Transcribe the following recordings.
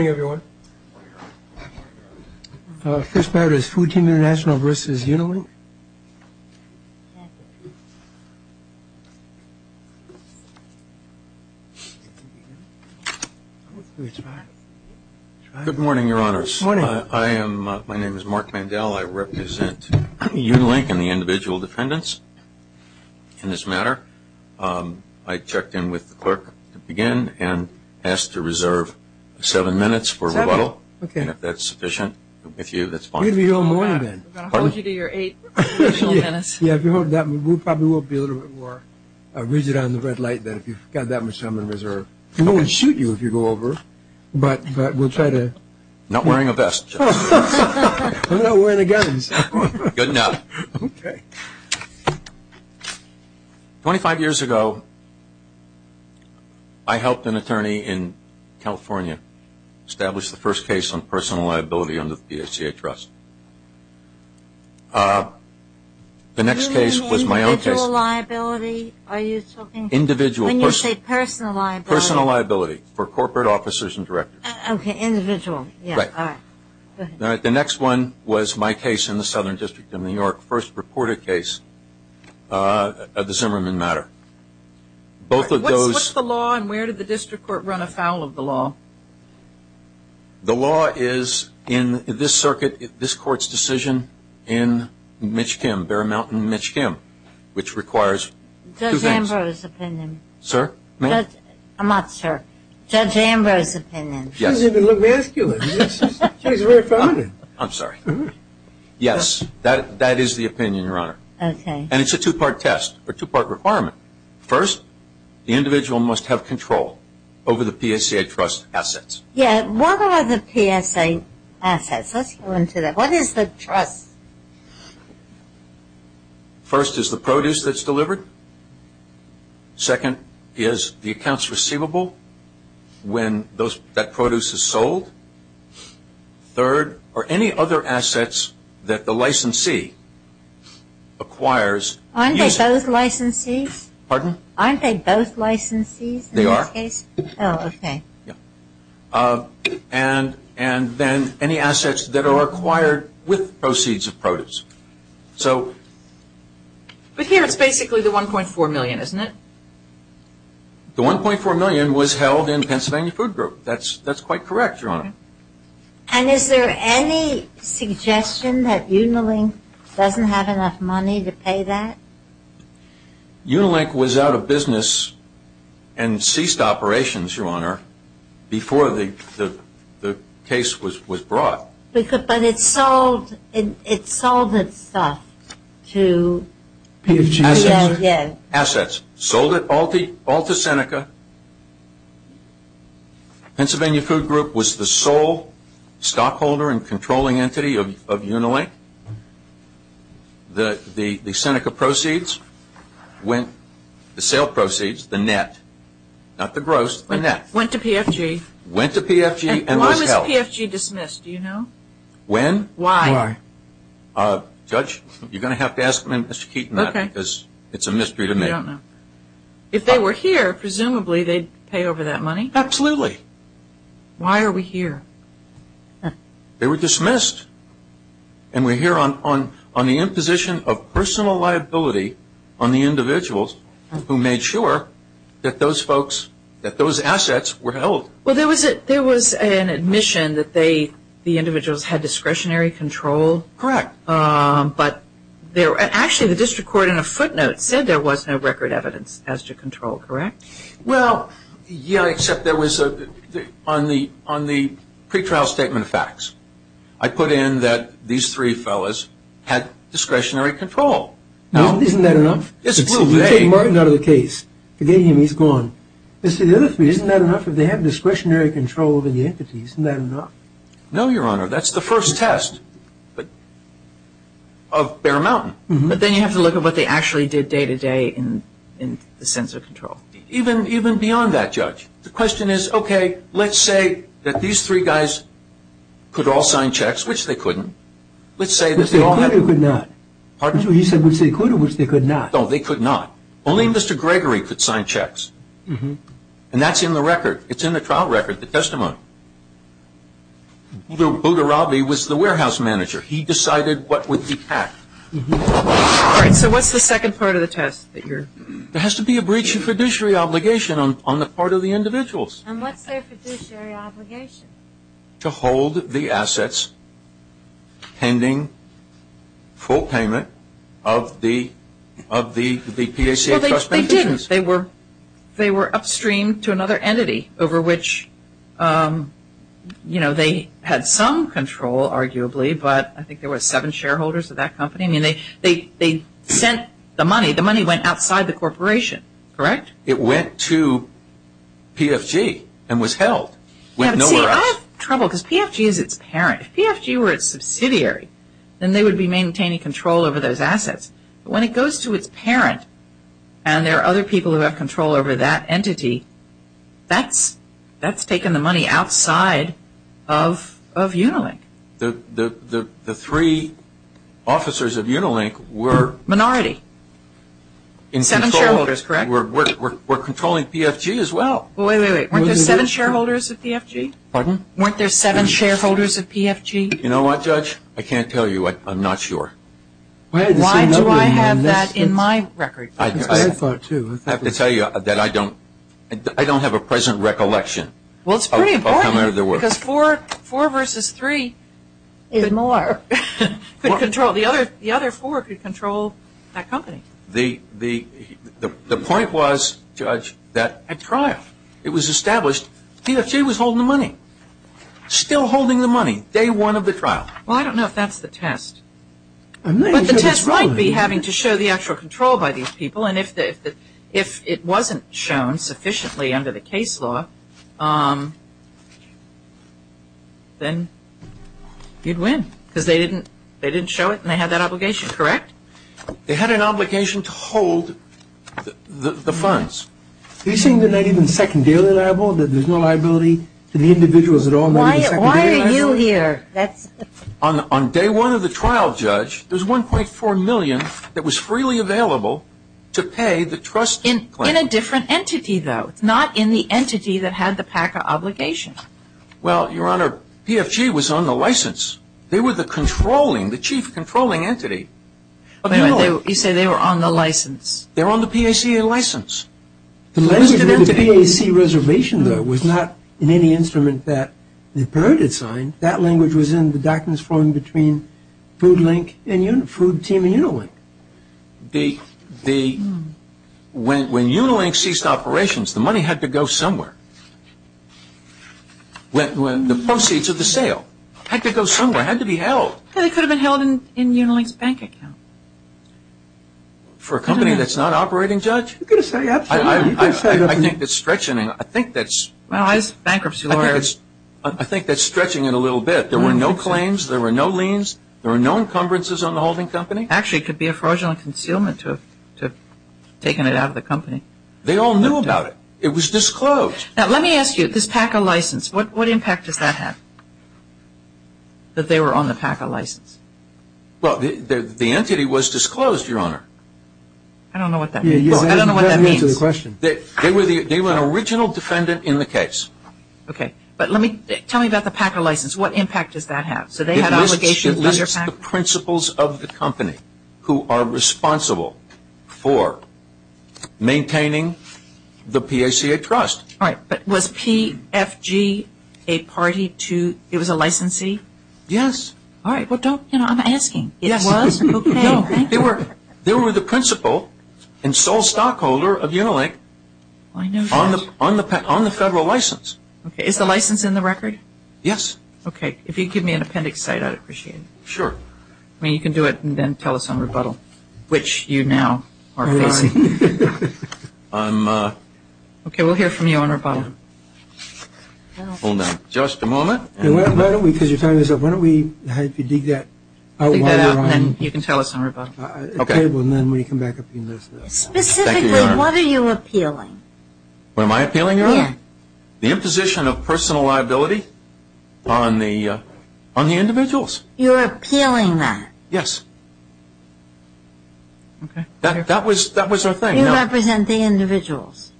Good morning, Your Honors. My name is Mark Mandel. I represent Unilink and the individual to begin and ask to reserve seven minutes for rebuttal. If that's sufficient with you, that's fine. We're going to hold you to your eight minutes. We probably will be a little bit more rigid on the red light then if you've got that much time on reserve. We won't shoot you if you go over, but we'll try to. I'm not wearing a vest. I'm not wearing a gun. Good enough. Okay. Twenty-five years ago, I helped an attorney in California establish the first case on personal liability under the PSJA Trust. The next case was my own case. You mean individual liability? Individual. When you say personal liability. Personal liability for corporate officers and directors. Okay, individual. Right. All right, go ahead. The next one was my case in the Southern District of New York, first reported case of the Zimmerman matter. What's the law and where did the district court run afoul of the law? The law is in this circuit, this court's decision in Mitch Kim, Bear Mountain Mitch Kim, which requires two things. Judge Amber's opinion. Sir? I'm not sir. Judge Amber's opinion. She doesn't even look masculine. She's very feminine. I'm sorry. Yes, that is the opinion, Your Honor. Okay. And it's a two-part test, a two-part requirement. First, the individual must have control over the PSJA Trust assets. Yeah, what are the PSJA assets? Let's go into that. What is the trust? First is the produce that's delivered. Second is the accounts receivable when that produce is sold. Third are any other assets that the licensee acquires. Aren't they both licensees? Pardon? Aren't they both licensees in this case? They are. Oh, okay. And then any assets that are acquired with proceeds of produce. But here it's basically the $1.4 million, isn't it? The $1.4 million was held in Pennsylvania Food Group. That's quite correct, Your Honor. And is there any suggestion that Unilink doesn't have enough money to pay that? Unilink was out of business and ceased operations, Your Honor, before the case was brought. But it sold its stuff to PSJA. Assets. Assets. Sold it all to Seneca. Pennsylvania Food Group was the sole stockholder and controlling entity of Unilink. The Seneca proceeds, the sale proceeds, the net, not the gross, the net. Went to PFG. Went to PFG and was held. Why was PFG dismissed? Do you know? When? Why? Judge, you're going to have to ask Mr. Keaton that because it's a mystery to me. I don't know. If they were here, presumably they'd pay over that money? Absolutely. Why are we here? They were dismissed. And we're here on the imposition of personal liability on the individuals who made sure that those folks, that those assets were held. Well, there was an admission that they, the individuals, had discretionary control. Correct. But actually the district court in a footnote said there was no record evidence as to control, correct? Well, yeah, except there was, on the pretrial statement of facts, I put in that these three fellas had discretionary control. Isn't that enough? It's a little vague. Take Martin out of the case. Forget him. He's gone. Isn't that enough? If they had discretionary control over the entities, isn't that enough? No, Your Honor. That's the first test of Bear Mountain. But then you have to look at what they actually did day-to-day in the sense of control. Even beyond that, Judge. The question is, okay, let's say that these three guys could all sign checks, which they couldn't. Which they could or could not? Pardon? You said which they could or which they could not. No, they could not. Only Mr. Gregory could sign checks. And that's in the record. It's in the trial record, the testimony. Boudarabi was the warehouse manager. He decided what would be packed. All right. So what's the second part of the test that you're? There has to be a breach of fiduciary obligation on the part of the individuals. And what's their fiduciary obligation? To hold the assets pending full payment of the PACA trust. Well, they didn't. They were upstream to another entity over which, you know, they had some control, arguably, but I think there were seven shareholders of that company. I mean, they sent the money. The money went outside the corporation, correct? It went to PFG and was held. See, I have trouble because PFG is its parent. If PFG were its subsidiary, then they would be maintaining control over those assets. But when it goes to its parent and there are other people who have control over that entity, that's taken the money outside of Unilink. The three officers of Unilink were? Minority. Seven shareholders, correct? We're controlling PFG as well. Wait, wait, wait. Weren't there seven shareholders of PFG? Pardon? Weren't there seven shareholders of PFG? You know what, Judge? I can't tell you. I'm not sure. Why do I have that in my record? I have to tell you that I don't have a present recollection of how many there were. Well, it's pretty important because four versus three could control. The other four could control that company. The point was, Judge, that at trial it was established PFG was holding the money, still holding the money, day one of the trial. Well, I don't know if that's the test. But the test might be having to show the actual control by these people, and if it wasn't shown sufficiently under the case law, then you'd win because they didn't show it and they had that obligation, correct? They had an obligation to hold the funds. Are you saying they're not even secondarily liable, that there's no liability to the individuals at all? Why are you here? On day one of the trial, Judge, there was $1.4 million that was freely available to pay the trust claim. In a different entity, though. It's not in the entity that had the PACA obligation. Well, Your Honor, PFG was on the license. They were the controlling, the chief controlling entity. You say they were on the license. They were on the PACA license. The PACA reservation, though, was not in any instrument that the appellate had signed. That language was in the documents flowing between Food Link, Food Team, and Unilink. When Unilink ceased operations, the money had to go somewhere. The proceeds of the sale had to go somewhere. It had to be held. It could have been held in Unilink's bank account. For a company that's not operating, Judge? I think that's stretching it. I think that's stretching it a little bit. There were no claims. There were no liens. There were no encumbrances on the holding company. Actually, it could be a fraudulent concealment to have taken it out of the company. They all knew about it. It was disclosed. Now, let me ask you. This PACA license, what impact does that have, that they were on the PACA license? Well, the entity was disclosed, Your Honor. I don't know what that means. I don't know what that means. You have to answer the question. They were an original defendant in the case. Okay. But tell me about the PACA license. What impact does that have? So they had obligations? It lists the principals of the company who are responsible for maintaining the PACA trust. All right. But was PFG a party to, it was a licensee? Yes. All right. Well, don't, you know, I'm asking. Yes. It was? Okay. No. Thank you. They were the principal and sole stockholder of Unilink on the federal license. Okay. Is the license in the record? Yes. Okay. If you could give me an appendix cite, I'd appreciate it. Sure. I mean, you can do it and then tell us on rebuttal, which you now are facing. I'm. Okay. We'll hear from you on rebuttal. Hold on. Just a moment. Why don't we, because your time is up. Why don't we dig that out while you're on. Dig that out and then you can tell us on rebuttal. Okay. And then when you come back up, you'll notice that. Specifically, what are you appealing? What am I appealing, Your Honor? Yes. The imposition of personal liability on the individuals. You're appealing that? Yes. Okay. That was our thing. You represent the individuals.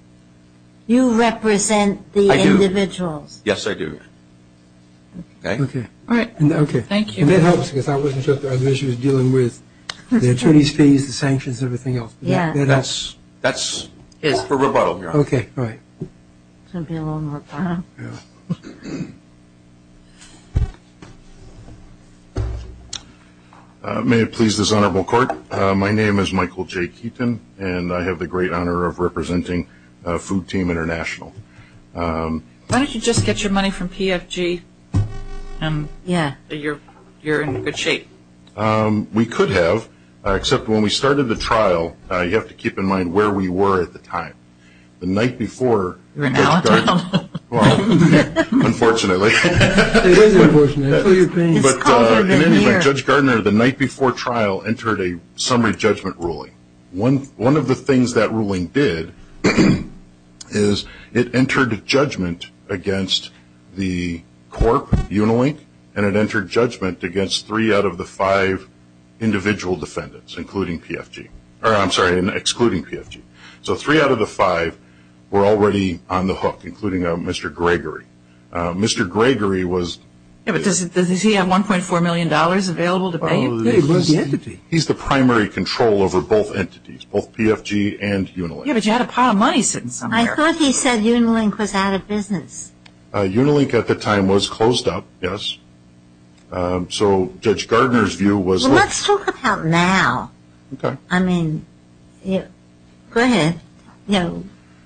You represent the individuals. I do. Yes, I do. Okay. Okay. All right. Okay. Thank you. And that helps because I wasn't sure if the other issue was dealing with the attorney's fees, the sanctions, everything else. Yeah. That's for rebuttal, Your Honor. Okay. All right. It's going to be a little more time. Yeah. May it please this honorable court, my name is Michael J. Keaton, and I have the great honor of representing Food Team International. Why don't you just get your money from PFG? Yeah. You're in good shape. We could have, except when we started the trial, you have to keep in mind where we were at the time. The night before Judge Gardner. You're an outlaw. Well, unfortunately. It is unfortunate. But anyway, Judge Gardner, the night before trial entered a summary judgment ruling. One of the things that ruling did is it entered judgment against the corp, Unilink, and it entered judgment against three out of the five individual defendants, including PFG. I'm sorry, excluding PFG. So three out of the five were already on the hook, including Mr. Gregory. Mr. Gregory was. Yeah, but does he have $1.4 million available to pay you? He's the primary control over both entities, both PFG and Unilink. Yeah, but you had a pile of money sitting somewhere. I thought he said Unilink was out of business. Unilink at the time was closed up, yes. So Judge Gardner's view was. Well, let's talk about now. Okay. I mean, go ahead.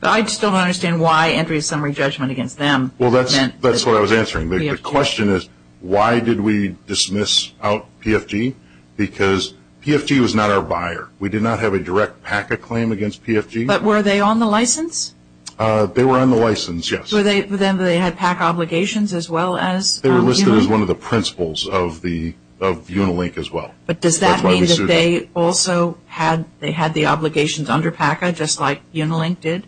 I just don't understand why entering a summary judgment against them. Well, that's what I was answering. The question is why did we dismiss out PFG? Because PFG was not our buyer. We did not have a direct PACA claim against PFG. But were they on the license? They were on the license, yes. Then they had PACA obligations as well as. They were listed as one of the principles of Unilink as well. But does that mean that they also had the obligations under PACA just like Unilink did?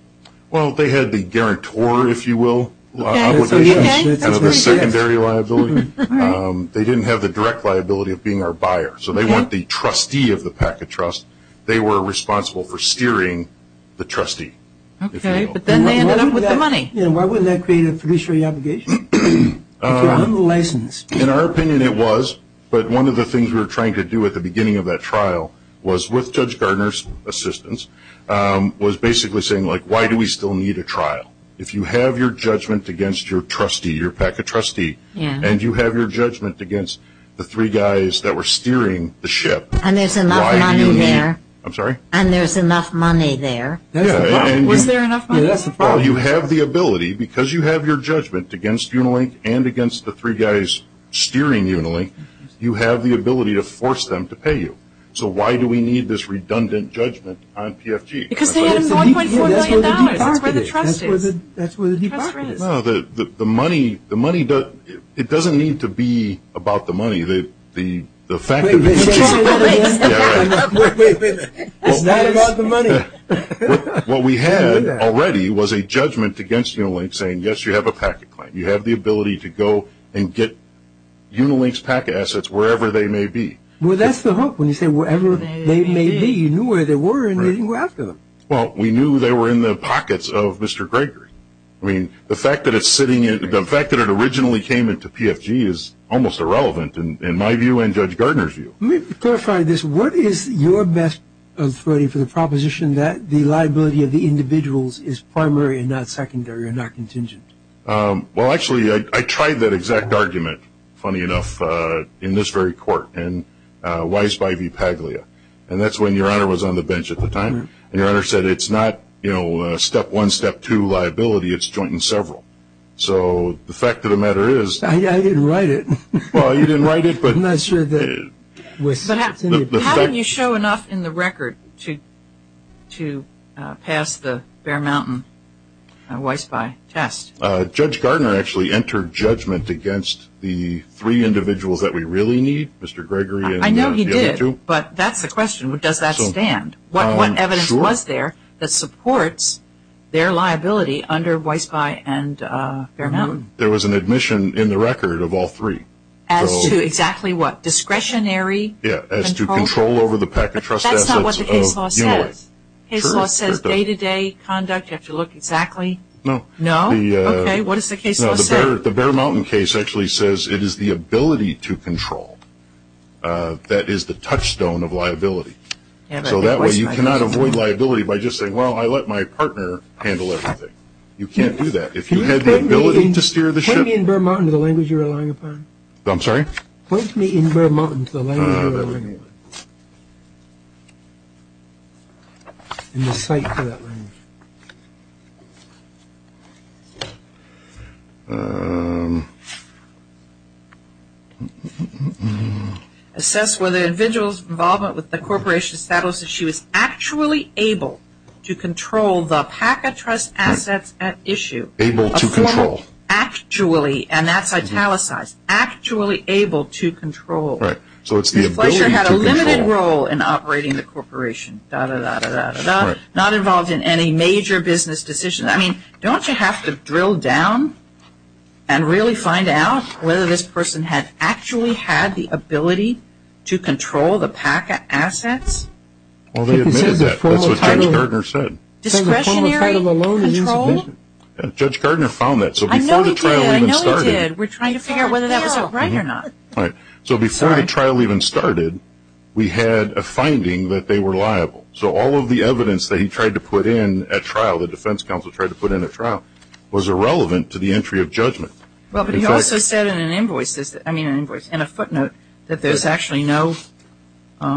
Well, they had the guarantor, if you will, obligations. That's what you had. Kind of a secondary liability. They didn't have the direct liability of being our buyer. So they weren't the trustee of the PACA trust. They were responsible for steering the trustee. Okay, but then they ended up with the money. Yeah, why wouldn't that create a fiduciary obligation? If you're on the license. In our opinion, it was. But one of the things we were trying to do at the beginning of that trial was with Judge Gardner's assistance, was basically saying, like, why do we still need a trial? If you have your judgment against your trustee, your PACA trustee, and you have your judgment against the three guys that were steering the ship. And there's enough money there. I'm sorry? And there's enough money there. Was there enough money? Yeah, that's the problem. Well, you have the ability, because you have your judgment against Unilink and against the three guys steering Unilink, you have the ability to force them to pay you. So why do we need this redundant judgment on PFG? Because they had $1.4 million. That's where the trust is. That's where the department is. The money doesn't need to be about the money. The fact of the matter is. Wait, wait, wait. It's not about the money. What we had already was a judgment against Unilink saying, yes, you have a PACA claim. You have the ability to go and get Unilink's PACA assets wherever they may be. Well, that's the hook. When you say wherever they may be, you knew where they were and you didn't go after them. Well, we knew they were in the pockets of Mr. Gregory. I mean, the fact that it originally came into PFG is almost irrelevant in my view and Judge Gardner's view. Let me clarify this. What is your best authority for the proposition that the liability of the individuals is primary and not secondary and not contingent? Well, actually, I tried that exact argument, funny enough, in this very court in Weisby v. Paglia. And that's when Your Honor was on the bench at the time. And Your Honor said it's not, you know, step one, step two liability, it's joint and several. So the fact of the matter is. I didn't write it. Well, you didn't write it. I'm not sure that. How did you show enough in the record to pass the Bear Mountain Weisby test? Judge Gardner actually entered judgment against the three individuals that we really need, Mr. Gregory and the other two. I know he did, but that's the question. Does that stand? What evidence was there that supports their liability under Weisby and Bear Mountain? There was an admission in the record of all three. As to exactly what, discretionary control? Yeah, as to control over the packet trust assets. But that's not what the case law says. Case law says day-to-day conduct. You have to look exactly. No. No? Okay, what does the case law say? The Bear Mountain case actually says it is the ability to control. That is the touchstone of liability. So that way you cannot avoid liability by just saying, well, I let my partner handle everything. You can't do that. If you had the ability to steer the ship. Point me in Bear Mountain to the language you're relying upon. I'm sorry? Point me in Bear Mountain to the language you're relying upon. In the site for that language. Assess whether the individual's involvement with the corporation established that she was actually able to control the packet trust assets at issue. Able to control. Actually. And that's italicized. Actually able to control. Right. So it's the ability to control. The pleasure had a limited role in operating the corporation. Da-da-da-da-da-da. Right. Not involved in any major business decisions. I mean, don't you have to drill down and really find out whether this person had actually had the ability to control the packet assets? Well, they admitted that. That's what Judge Gardner said. Discretionary control? Judge Gardner found that. So before the trial even started. I know he did. I know he did. We're trying to figure out whether that was right or not. Right. So before the trial even started, we had a finding that they were liable. So all of the evidence that he tried to put in at trial, the defense counsel tried to put in at trial, was irrelevant to the entry of judgment. Well, but he also said in an invoice, I mean, in a footnote, that there's actually no, you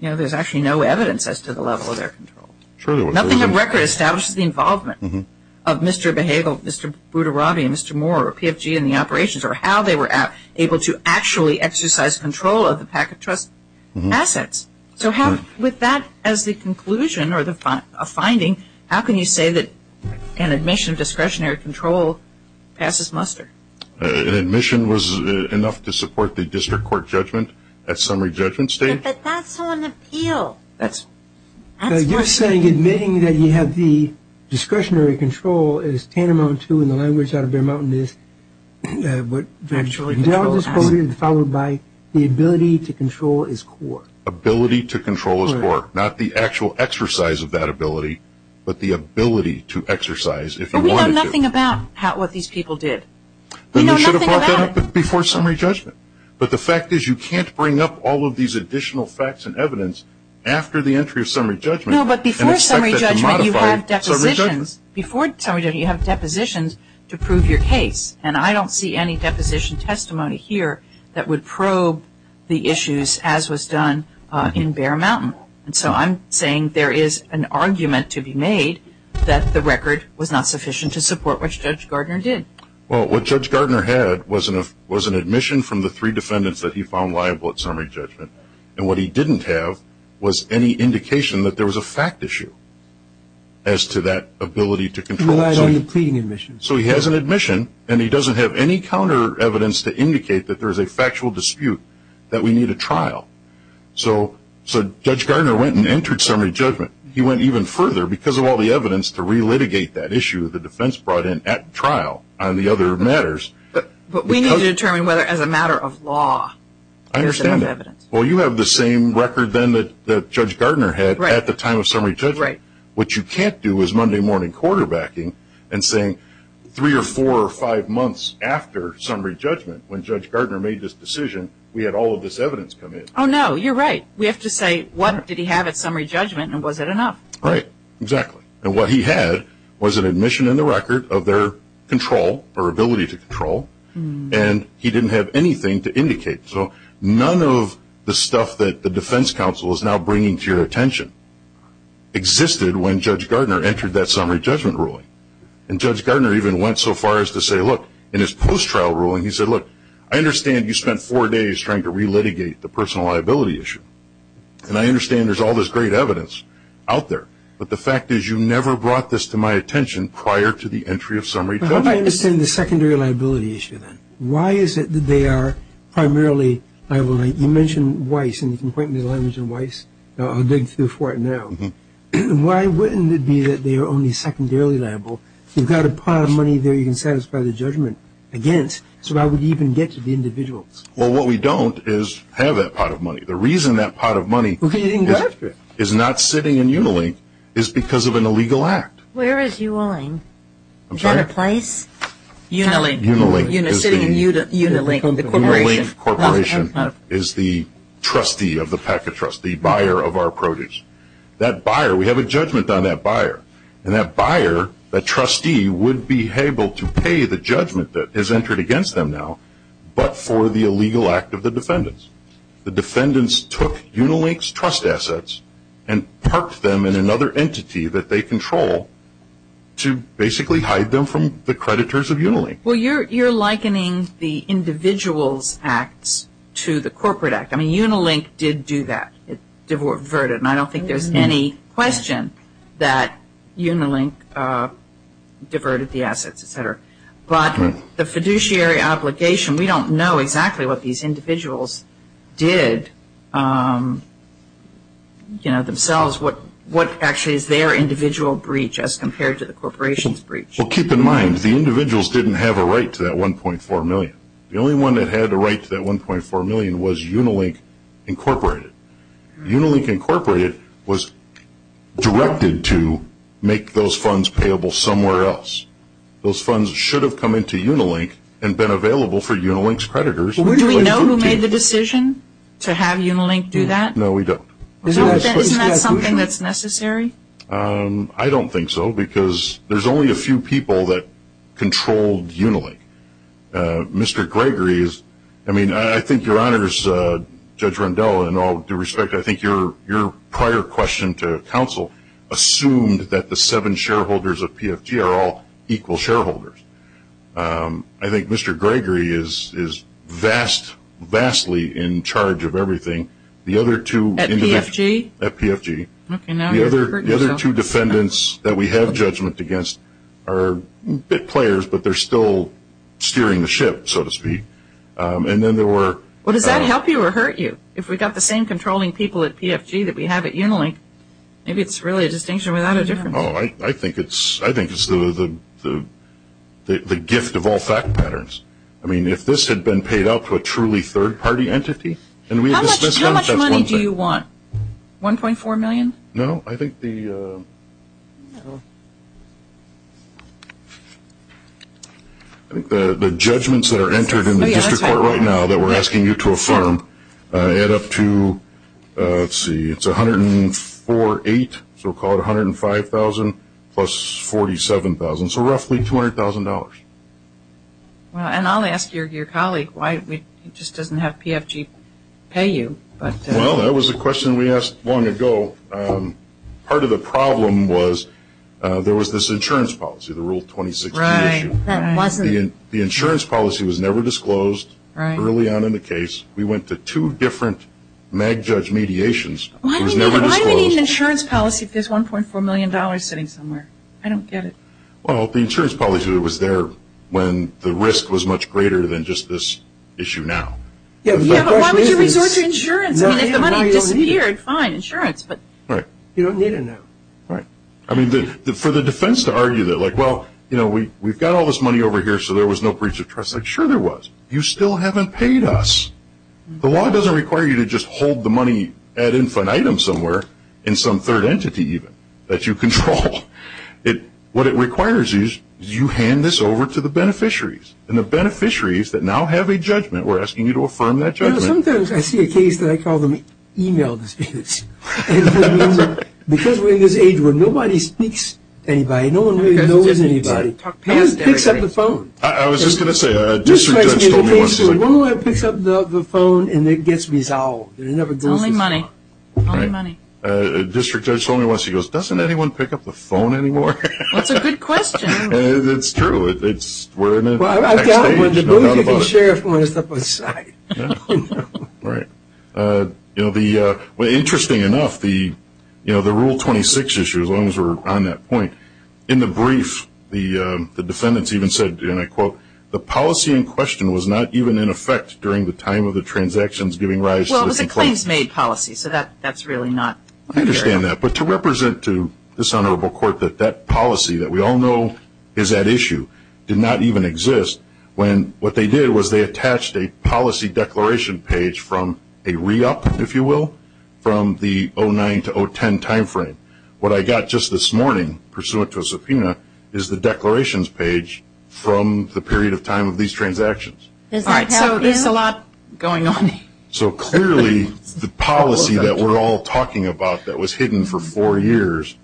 know, there's actually no evidence as to the level of their control. Nothing on record establishes the involvement of Mr. Behagel, Mr. Budarabi, Mr. Moore, or PFG in the operations or how they were able to actually exercise control of the packet trust assets. So with that as the conclusion or a finding, how can you say that an admission of discretionary control passes muster? An admission was enough to support the district court judgment at summary judgment stage? But that's on appeal. You're saying admitting that you have the discretionary control is tantamount to, in the language out of Bear Mountain, is what virtually controls assets, followed by the ability to control is core. Ability to control is core. Not the actual exercise of that ability, but the ability to exercise if it were to. But we know nothing about what these people did. We should have brought that up before summary judgment. But the fact is you can't bring up all of these additional facts and evidence after the entry of summary judgment. No, but before summary judgment you have depositions. Before summary judgment you have depositions to prove your case. And I don't see any deposition testimony here that would probe the issues as was done in Bear Mountain. And so I'm saying there is an argument to be made that the record was not sufficient to support what Judge Gardner did. Well, what Judge Gardner had was an admission from the three defendants that he found liable at summary judgment. And what he didn't have was any indication that there was a fact issue as to that ability to control. He relied on the pleading admission. So he has an admission, and he doesn't have any counter evidence to indicate that there is a factual dispute, that we need a trial. So Judge Gardner went and entered summary judgment. He went even further because of all the evidence to re-litigate that issue the defense brought in at trial on the other matters. But we need to determine whether as a matter of law there is enough evidence. I understand that. Well, you have the same record then that Judge Gardner had at the time of summary judgment. Right. What you can't do is Monday morning quarterbacking and saying three or four or five months after summary judgment, when Judge Gardner made this decision, we had all of this evidence come in. Oh, no, you're right. We have to say what did he have at summary judgment, and was it enough? Right, exactly. And what he had was an admission in the record of their control or ability to control, and he didn't have anything to indicate. So none of the stuff that the defense counsel is now bringing to your attention existed when Judge Gardner entered that summary judgment ruling. And Judge Gardner even went so far as to say, look, in his post-trial ruling, he said, look, I understand you spent four days trying to re-litigate the personal liability issue, and I understand there's all this great evidence out there, but the fact is you never brought this to my attention prior to the entry of summary judgment. But how do I understand the secondary liability issue then? Why is it that they are primarily liable? You mentioned Weiss, and you can point me to the language in Weiss. I'll dig through for it now. Why wouldn't it be that they are only secondarily liable? You've got a pile of money there you can satisfy the judgment against, so how would you even get to the individuals? Well, what we don't is have that pot of money. The reason that pot of money is not sitting in Unilink is because of an illegal act. Where is UNLINK? Is that a place? Unilink. Unilink. Sitting in Unilink, the corporation. The Unilink Corporation is the trustee of the Packet Trust, the buyer of our produce. That buyer, we have a judgment on that buyer, and that buyer, that trustee, would be able to pay the judgment that has entered against them now, but for the illegal act of the defendants. The defendants took Unilink's trust assets and parked them in another entity that they control to basically hide them from the creditors of Unilink. Well, you're likening the individuals' acts to the corporate act. I mean, Unilink did do that. And I don't think there's any question that Unilink diverted the assets, et cetera. But the fiduciary obligation, we don't know exactly what these individuals did, you know, themselves. What actually is their individual breach as compared to the corporation's breach? Well, keep in mind, the individuals didn't have a right to that $1.4 million. The only one that had a right to that $1.4 million was Unilink Incorporated. Unilink Incorporated was directed to make those funds payable somewhere else. Those funds should have come into Unilink and been available for Unilink's creditors. Do we know who made the decision to have Unilink do that? No, we don't. Isn't that something that's necessary? I don't think so because there's only a few people that controlled Unilink. Mr. Gregory is, I mean, I think your honors, Judge Rundell, in all due respect, I think your prior question to counsel assumed that the seven shareholders of PFG are all equal shareholders. I think Mr. Gregory is vastly in charge of everything. At PFG? At PFG. Okay, now you're hurting yourself. The other two defendants that we have judgment against are bit players, but they're still steering the ship, so to speak. And then there were – Well, does that help you or hurt you? If we've got the same controlling people at PFG that we have at Unilink, maybe it's really a distinction without a difference. I think it's the gift of all fact patterns. I mean, if this had been paid out to a truly third-party entity – How much money do you want? $1.4 million? No, I think the judgments that are entered in the district court right now that we're asking you to affirm add up to, let's see, it's $104,800, so we'll call it $105,000, plus $47,000, so roughly $200,000. And I'll ask your colleague why he just doesn't have PFG pay you. Well, that was a question we asked long ago. Part of the problem was there was this insurance policy, the Rule 26B issue. Right. That wasn't – The insurance policy was never disclosed early on in the case. We went to two different MAG judge mediations. It was never disclosed. Why do we need an insurance policy if there's $1.4 million sitting somewhere? I don't get it. Well, the insurance policy was there when the risk was much greater than just this issue now. Yeah, but why would you resort to insurance? I mean, if the money disappeared, fine, insurance. Right. You don't need it now. Right. I mean, for the defense to argue that, like, well, you know, we've got all this money over here, so there was no breach of trust. Like, sure there was. You still haven't paid us. The law doesn't require you to just hold the money ad infinitum somewhere, in some third entity even, that you control. What it requires is you hand this over to the beneficiaries, and the beneficiaries that now have a judgment, we're asking you to affirm that judgment. You know, sometimes I see a case that I call them e-mail disputes. Because we're in this age where nobody speaks to anybody. No one really knows anybody. No one picks up the phone. I was just going to say, a district judge told me once. One lawyer picks up the phone, and it gets resolved. It never goes to the phone. It's only money. Only money. A district judge told me once, he goes, doesn't anyone pick up the phone anymore? That's a good question. It's true. We're in the next stage. Well, I doubt it. The sheriff went up on his side. Right. You know, interesting enough, the Rule 26 issue, as long as we're on that point, in the brief, the defendants even said, and I quote, the policy in question was not even in effect during the time of the transactions giving rise to the complaint. Well, it was a claims-made policy. So that's really not there. I understand that. But to represent to this honorable court that that policy that we all know is at issue did not even exist when what they did was they attached a policy declaration page from a re-up, if you will, from the 2009 to 2010 time frame. What I got just this morning, pursuant to a subpoena, is the declarations page from the period of time of these transactions. All right. So there's a lot going on. So clearly the policy that we're all talking about that was hidden for four years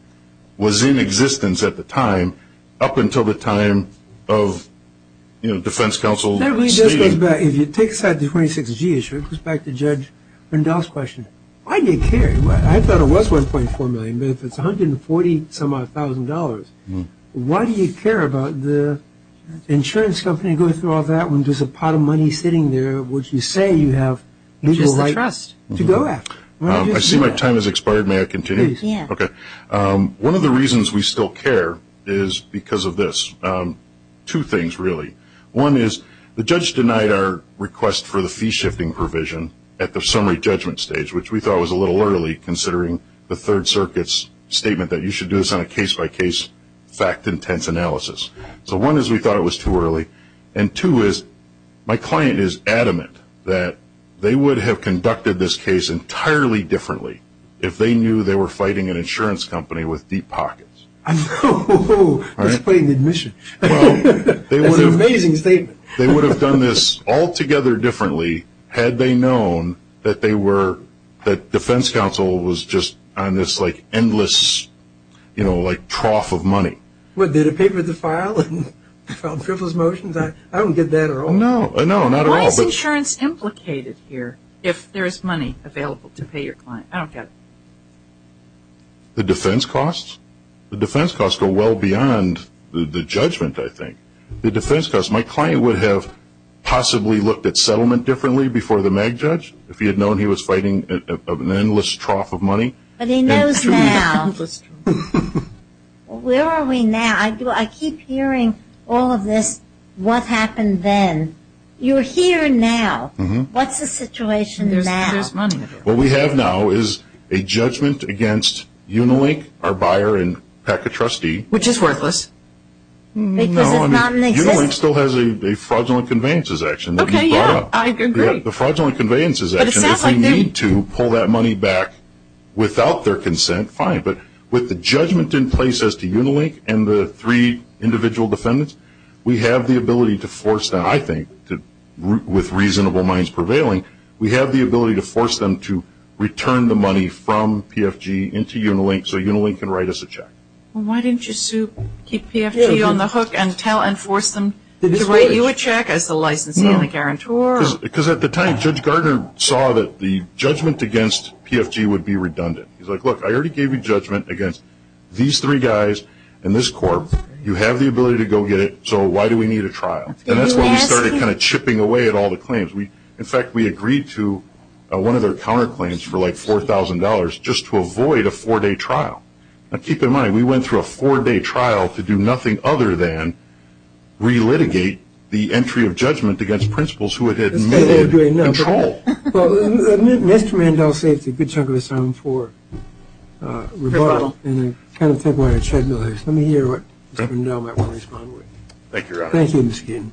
was in existence at the time, up until the time of, you know, defense counsel saying. Let me just go back. If you take aside the 26G issue, it goes back to Judge Rendell's question. Why do you care? I thought it was $1.4 million, but if it's $140-some-odd thousand dollars, why do you care about the insurance company going through all that when there's a pot of money sitting there which you say you have legal right to go after? I see my time has expired. May I continue? Yes. Okay. One of the reasons we still care is because of this. Two things, really. One is the judge denied our request for the fee-shifting provision at the summary judgment stage, which we thought was a little early, considering the Third Circuit's statement that you should do this on a case-by-case, fact-intense analysis. So one is we thought it was too early. And two is my client is adamant that they would have conducted this case entirely differently if they knew they were fighting an insurance company with deep pockets. Oh, that's putting the admission. That's an amazing statement. They would have done this altogether differently had they known that they were, that defense counsel was just on this, like, endless, you know, like trough of money. What, did it pay for the file? I don't get that at all. No, not at all. Why is insurance implicated here if there is money available to pay your client? I don't get it. The defense costs? The defense costs go well beyond the judgment, I think. The defense costs, my client would have possibly looked at settlement differently before the MAG judge if he had known he was fighting an endless trough of money. But he knows now. Where are we now? I keep hearing all of this, what happened then. You're here now. What's the situation now? There's money available. What we have now is a judgment against Unilink, our buyer and PACA trustee. Which is worthless. No, I mean, Unilink still has a fraudulent conveyances action that we brought up. Okay, yeah, I agree. The fraudulent conveyances action, if they need to pull that money back without their consent, fine. But with the judgment in place as to Unilink and the three individual defendants, we have the ability to force them, I think, with reasonable minds prevailing, we have the ability to force them to return the money from PFG into Unilink so Unilink can write us a check. Why didn't you keep PFG on the hook and force them to write you a check as the licensee and the guarantor? Because at the time, Judge Gardner saw that the judgment against PFG would be redundant. He's like, look, I already gave you judgment against these three guys and this corp. You have the ability to go get it, so why do we need a trial? And that's when we started kind of chipping away at all the claims. In fact, we agreed to one of their counterclaims for like $4,000 just to avoid a four-day trial. Now, keep in mind, we went through a four-day trial to do nothing other than relitigate the entry of judgment against principals who had admitted control. Well, Mr. Randall saved a good chunk of his time for rebuttal. And I kind of think what I said earlier. Let me hear what Mr. Randall might want to respond with. Thank you, Your Honor. Thank you, Ms. Keenan.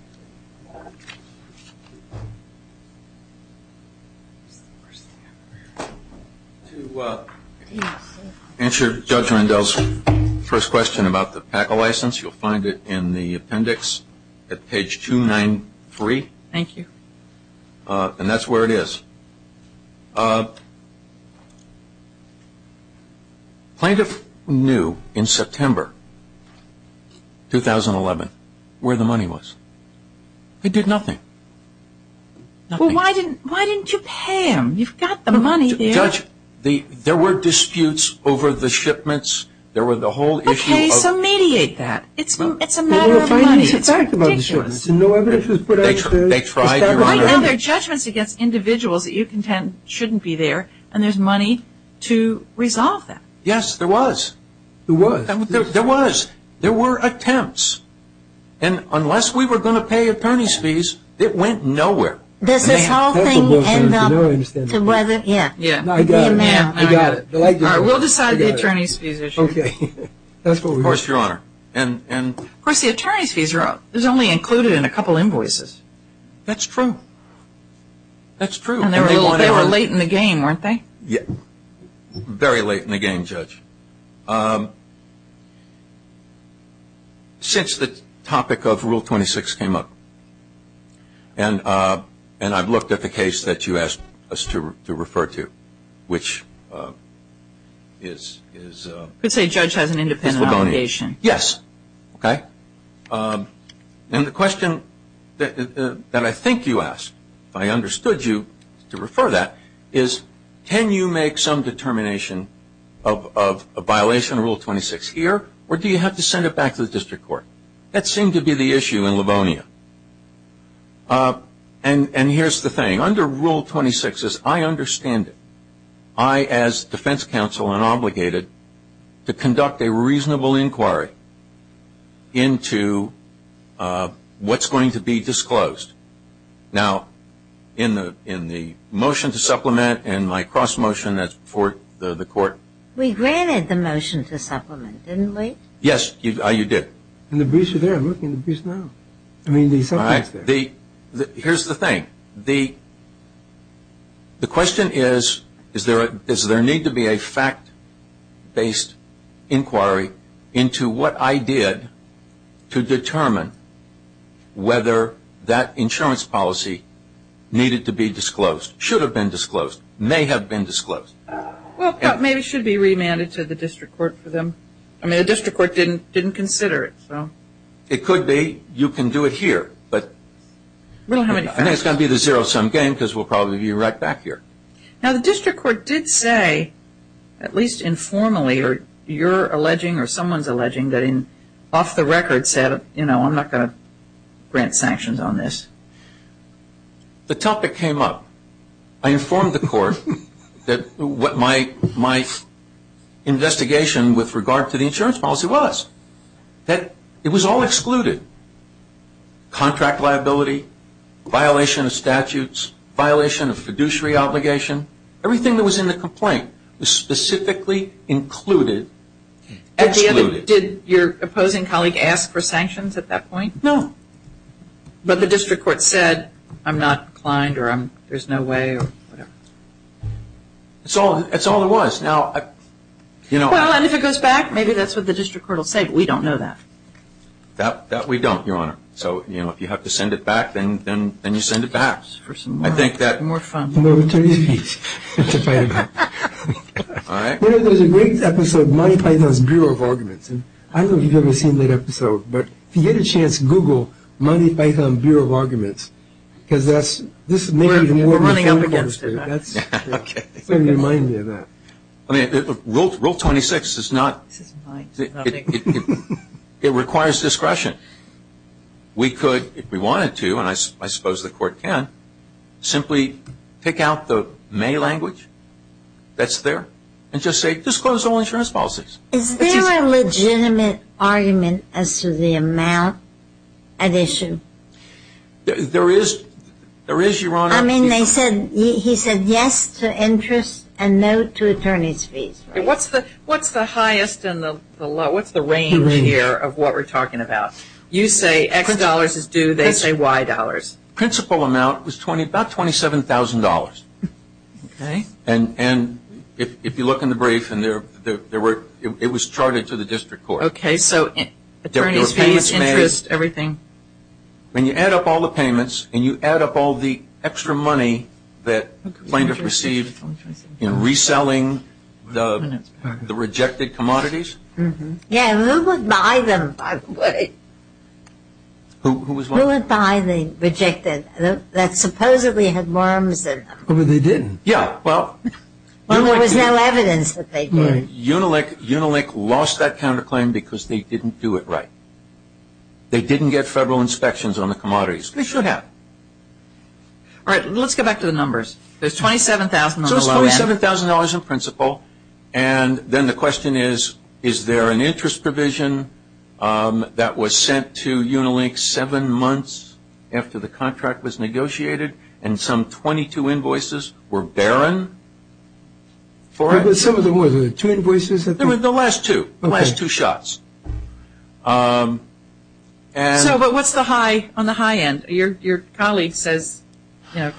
To answer Judge Randall's first question about the PACA license, you'll find it in the appendix at page 293. Thank you. And that's where it is. Plaintiff knew in September 2011 where the money was. He did nothing. Well, why didn't you pay him? You've got the money there. Judge, there were disputes over the shipments. There were the whole issue of Okay, so mediate that. It's a matter of money. It's ridiculous. They tried, Your Honor. Right now there are judgments against individuals that you contend shouldn't be there, and there's money to resolve that. Yes, there was. There was? There was. There were attempts. And unless we were going to pay attorney's fees, it went nowhere. Does this whole thing end up to whether? I got it. I got it. We'll decide the attorney's fees issue. Of course, Your Honor. Of course, the attorney's fees are up. There's only included in a couple invoices. That's true. That's true. And they were late in the game, weren't they? Very late in the game, Judge. Since the topic of Rule 26 came up, and I've looked at the case that you asked us to refer to, which is You could say Judge has an independent obligation. Yes. Okay? And the question that I think you asked, if I understood you to refer that, is can you make some determination of a violation of Rule 26 here, or do you have to send it back to the district court? That seemed to be the issue in Livonia. And here's the thing. Under Rule 26, as I understand it, I, as defense counsel, am entitled and obligated to conduct a reasonable inquiry into what's going to be disclosed. Now, in the motion to supplement and my cross-motion, that's before the court. We granted the motion to supplement, didn't we? Yes, you did. And the briefs are there. I'm looking at the briefs now. All right. Here's the thing. The question is, is there a need to be a fact-based inquiry into what I did to determine whether that insurance policy needed to be disclosed, should have been disclosed, may have been disclosed? Well, maybe it should be remanded to the district court for them. I mean, the district court didn't consider it, so. It could be. You can do it here. But I think it's going to be the zero-sum game because we'll probably be right back here. Now, the district court did say, at least informally, or you're alleging or someone's alleging that off the record said, you know, I'm not going to grant sanctions on this. The topic came up. I informed the court that what my investigation with regard to the insurance policy was, that it was all excluded, contract liability, violation of statutes, violation of fiduciary obligation. Everything that was in the complaint was specifically included. Did your opposing colleague ask for sanctions at that point? No. But the district court said, I'm not inclined or there's no way or whatever. That's all it was. Well, and if it goes back, maybe that's what the district court will say, but we don't know that. That we don't, Your Honor. So, you know, if you have to send it back, then you send it back. For some more fun. There's a great episode, Monty Python's Bureau of Arguments, and I don't know if you've ever seen that episode, but if you get a chance, Google Monty Python's Bureau of Arguments, We're running up against it. Rule 26 is not, it requires discretion. We could, if we wanted to, and I suppose the court can, simply pick out the May language that's there and just say disclose all insurance policies. Is there a legitimate argument as to the amount at issue? There is, Your Honor. I mean, they said, he said yes to interest and no to attorney's fees. What's the highest and the lowest, what's the range here of what we're talking about? You say X dollars is due, they say Y dollars. Principal amount was about $27,000. Okay. And if you look in the brief, it was charted to the district court. Okay, so attorney's fees, interest, everything. When you add up all the payments and you add up all the extra money that plaintiff received in reselling the rejected commodities. Yeah, who would buy them, by the way? Who was what? Who would buy the rejected that supposedly had worms in them? Well, they didn't. Yeah, well. Well, there was no evidence that they did. Unilink lost that counterclaim because they didn't do it right. They didn't get federal inspections on the commodities. They should have. All right, let's get back to the numbers. There's $27,000 on the line. So it's $27,000 in principal, and then the question is, is there an interest provision that was sent to Unilink seven months after the contract was negotiated and some 22 invoices were barren? Some of them were. Were there two invoices? There were the last two, the last two shots. So what's the high on the high end? Your colleague says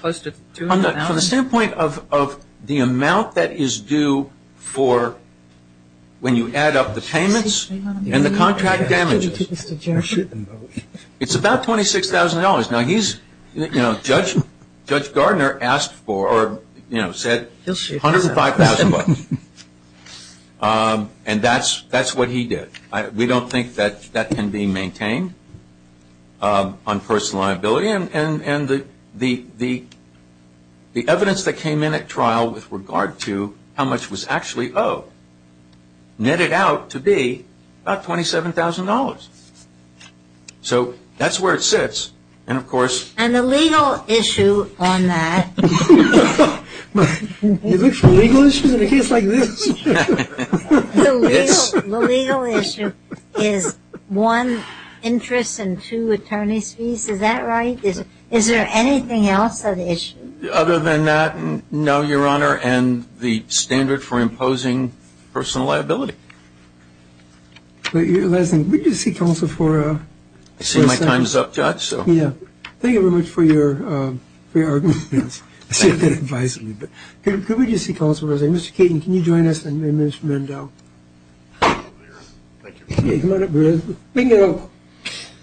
close to $200. From the standpoint of the amount that is due for when you add up the payments and the contract damages, it's about $26,000. Now, Judge Gardner asked for or said $105,000. And that's what he did. We don't think that that can be maintained on personal liability. And the evidence that came in at trial with regard to how much was actually owed netted out to be about $27,000. So that's where it sits. And, of course... And the legal issue on that... Is there legal issues in a case like this? The legal issue is one interest and two attorney's fees. Is that right? Is there anything else of issue? Other than that, no, Your Honor, and the standard for imposing personal liability. Last thing, would you seek counsel for... I see my time is up, Judge, so... Thank you very much for your arguments. Could we just seek counsel for a second? Mr. Keating, can you join us and Mr. Mendo? Thank you. Come on up, Bill. Bingo.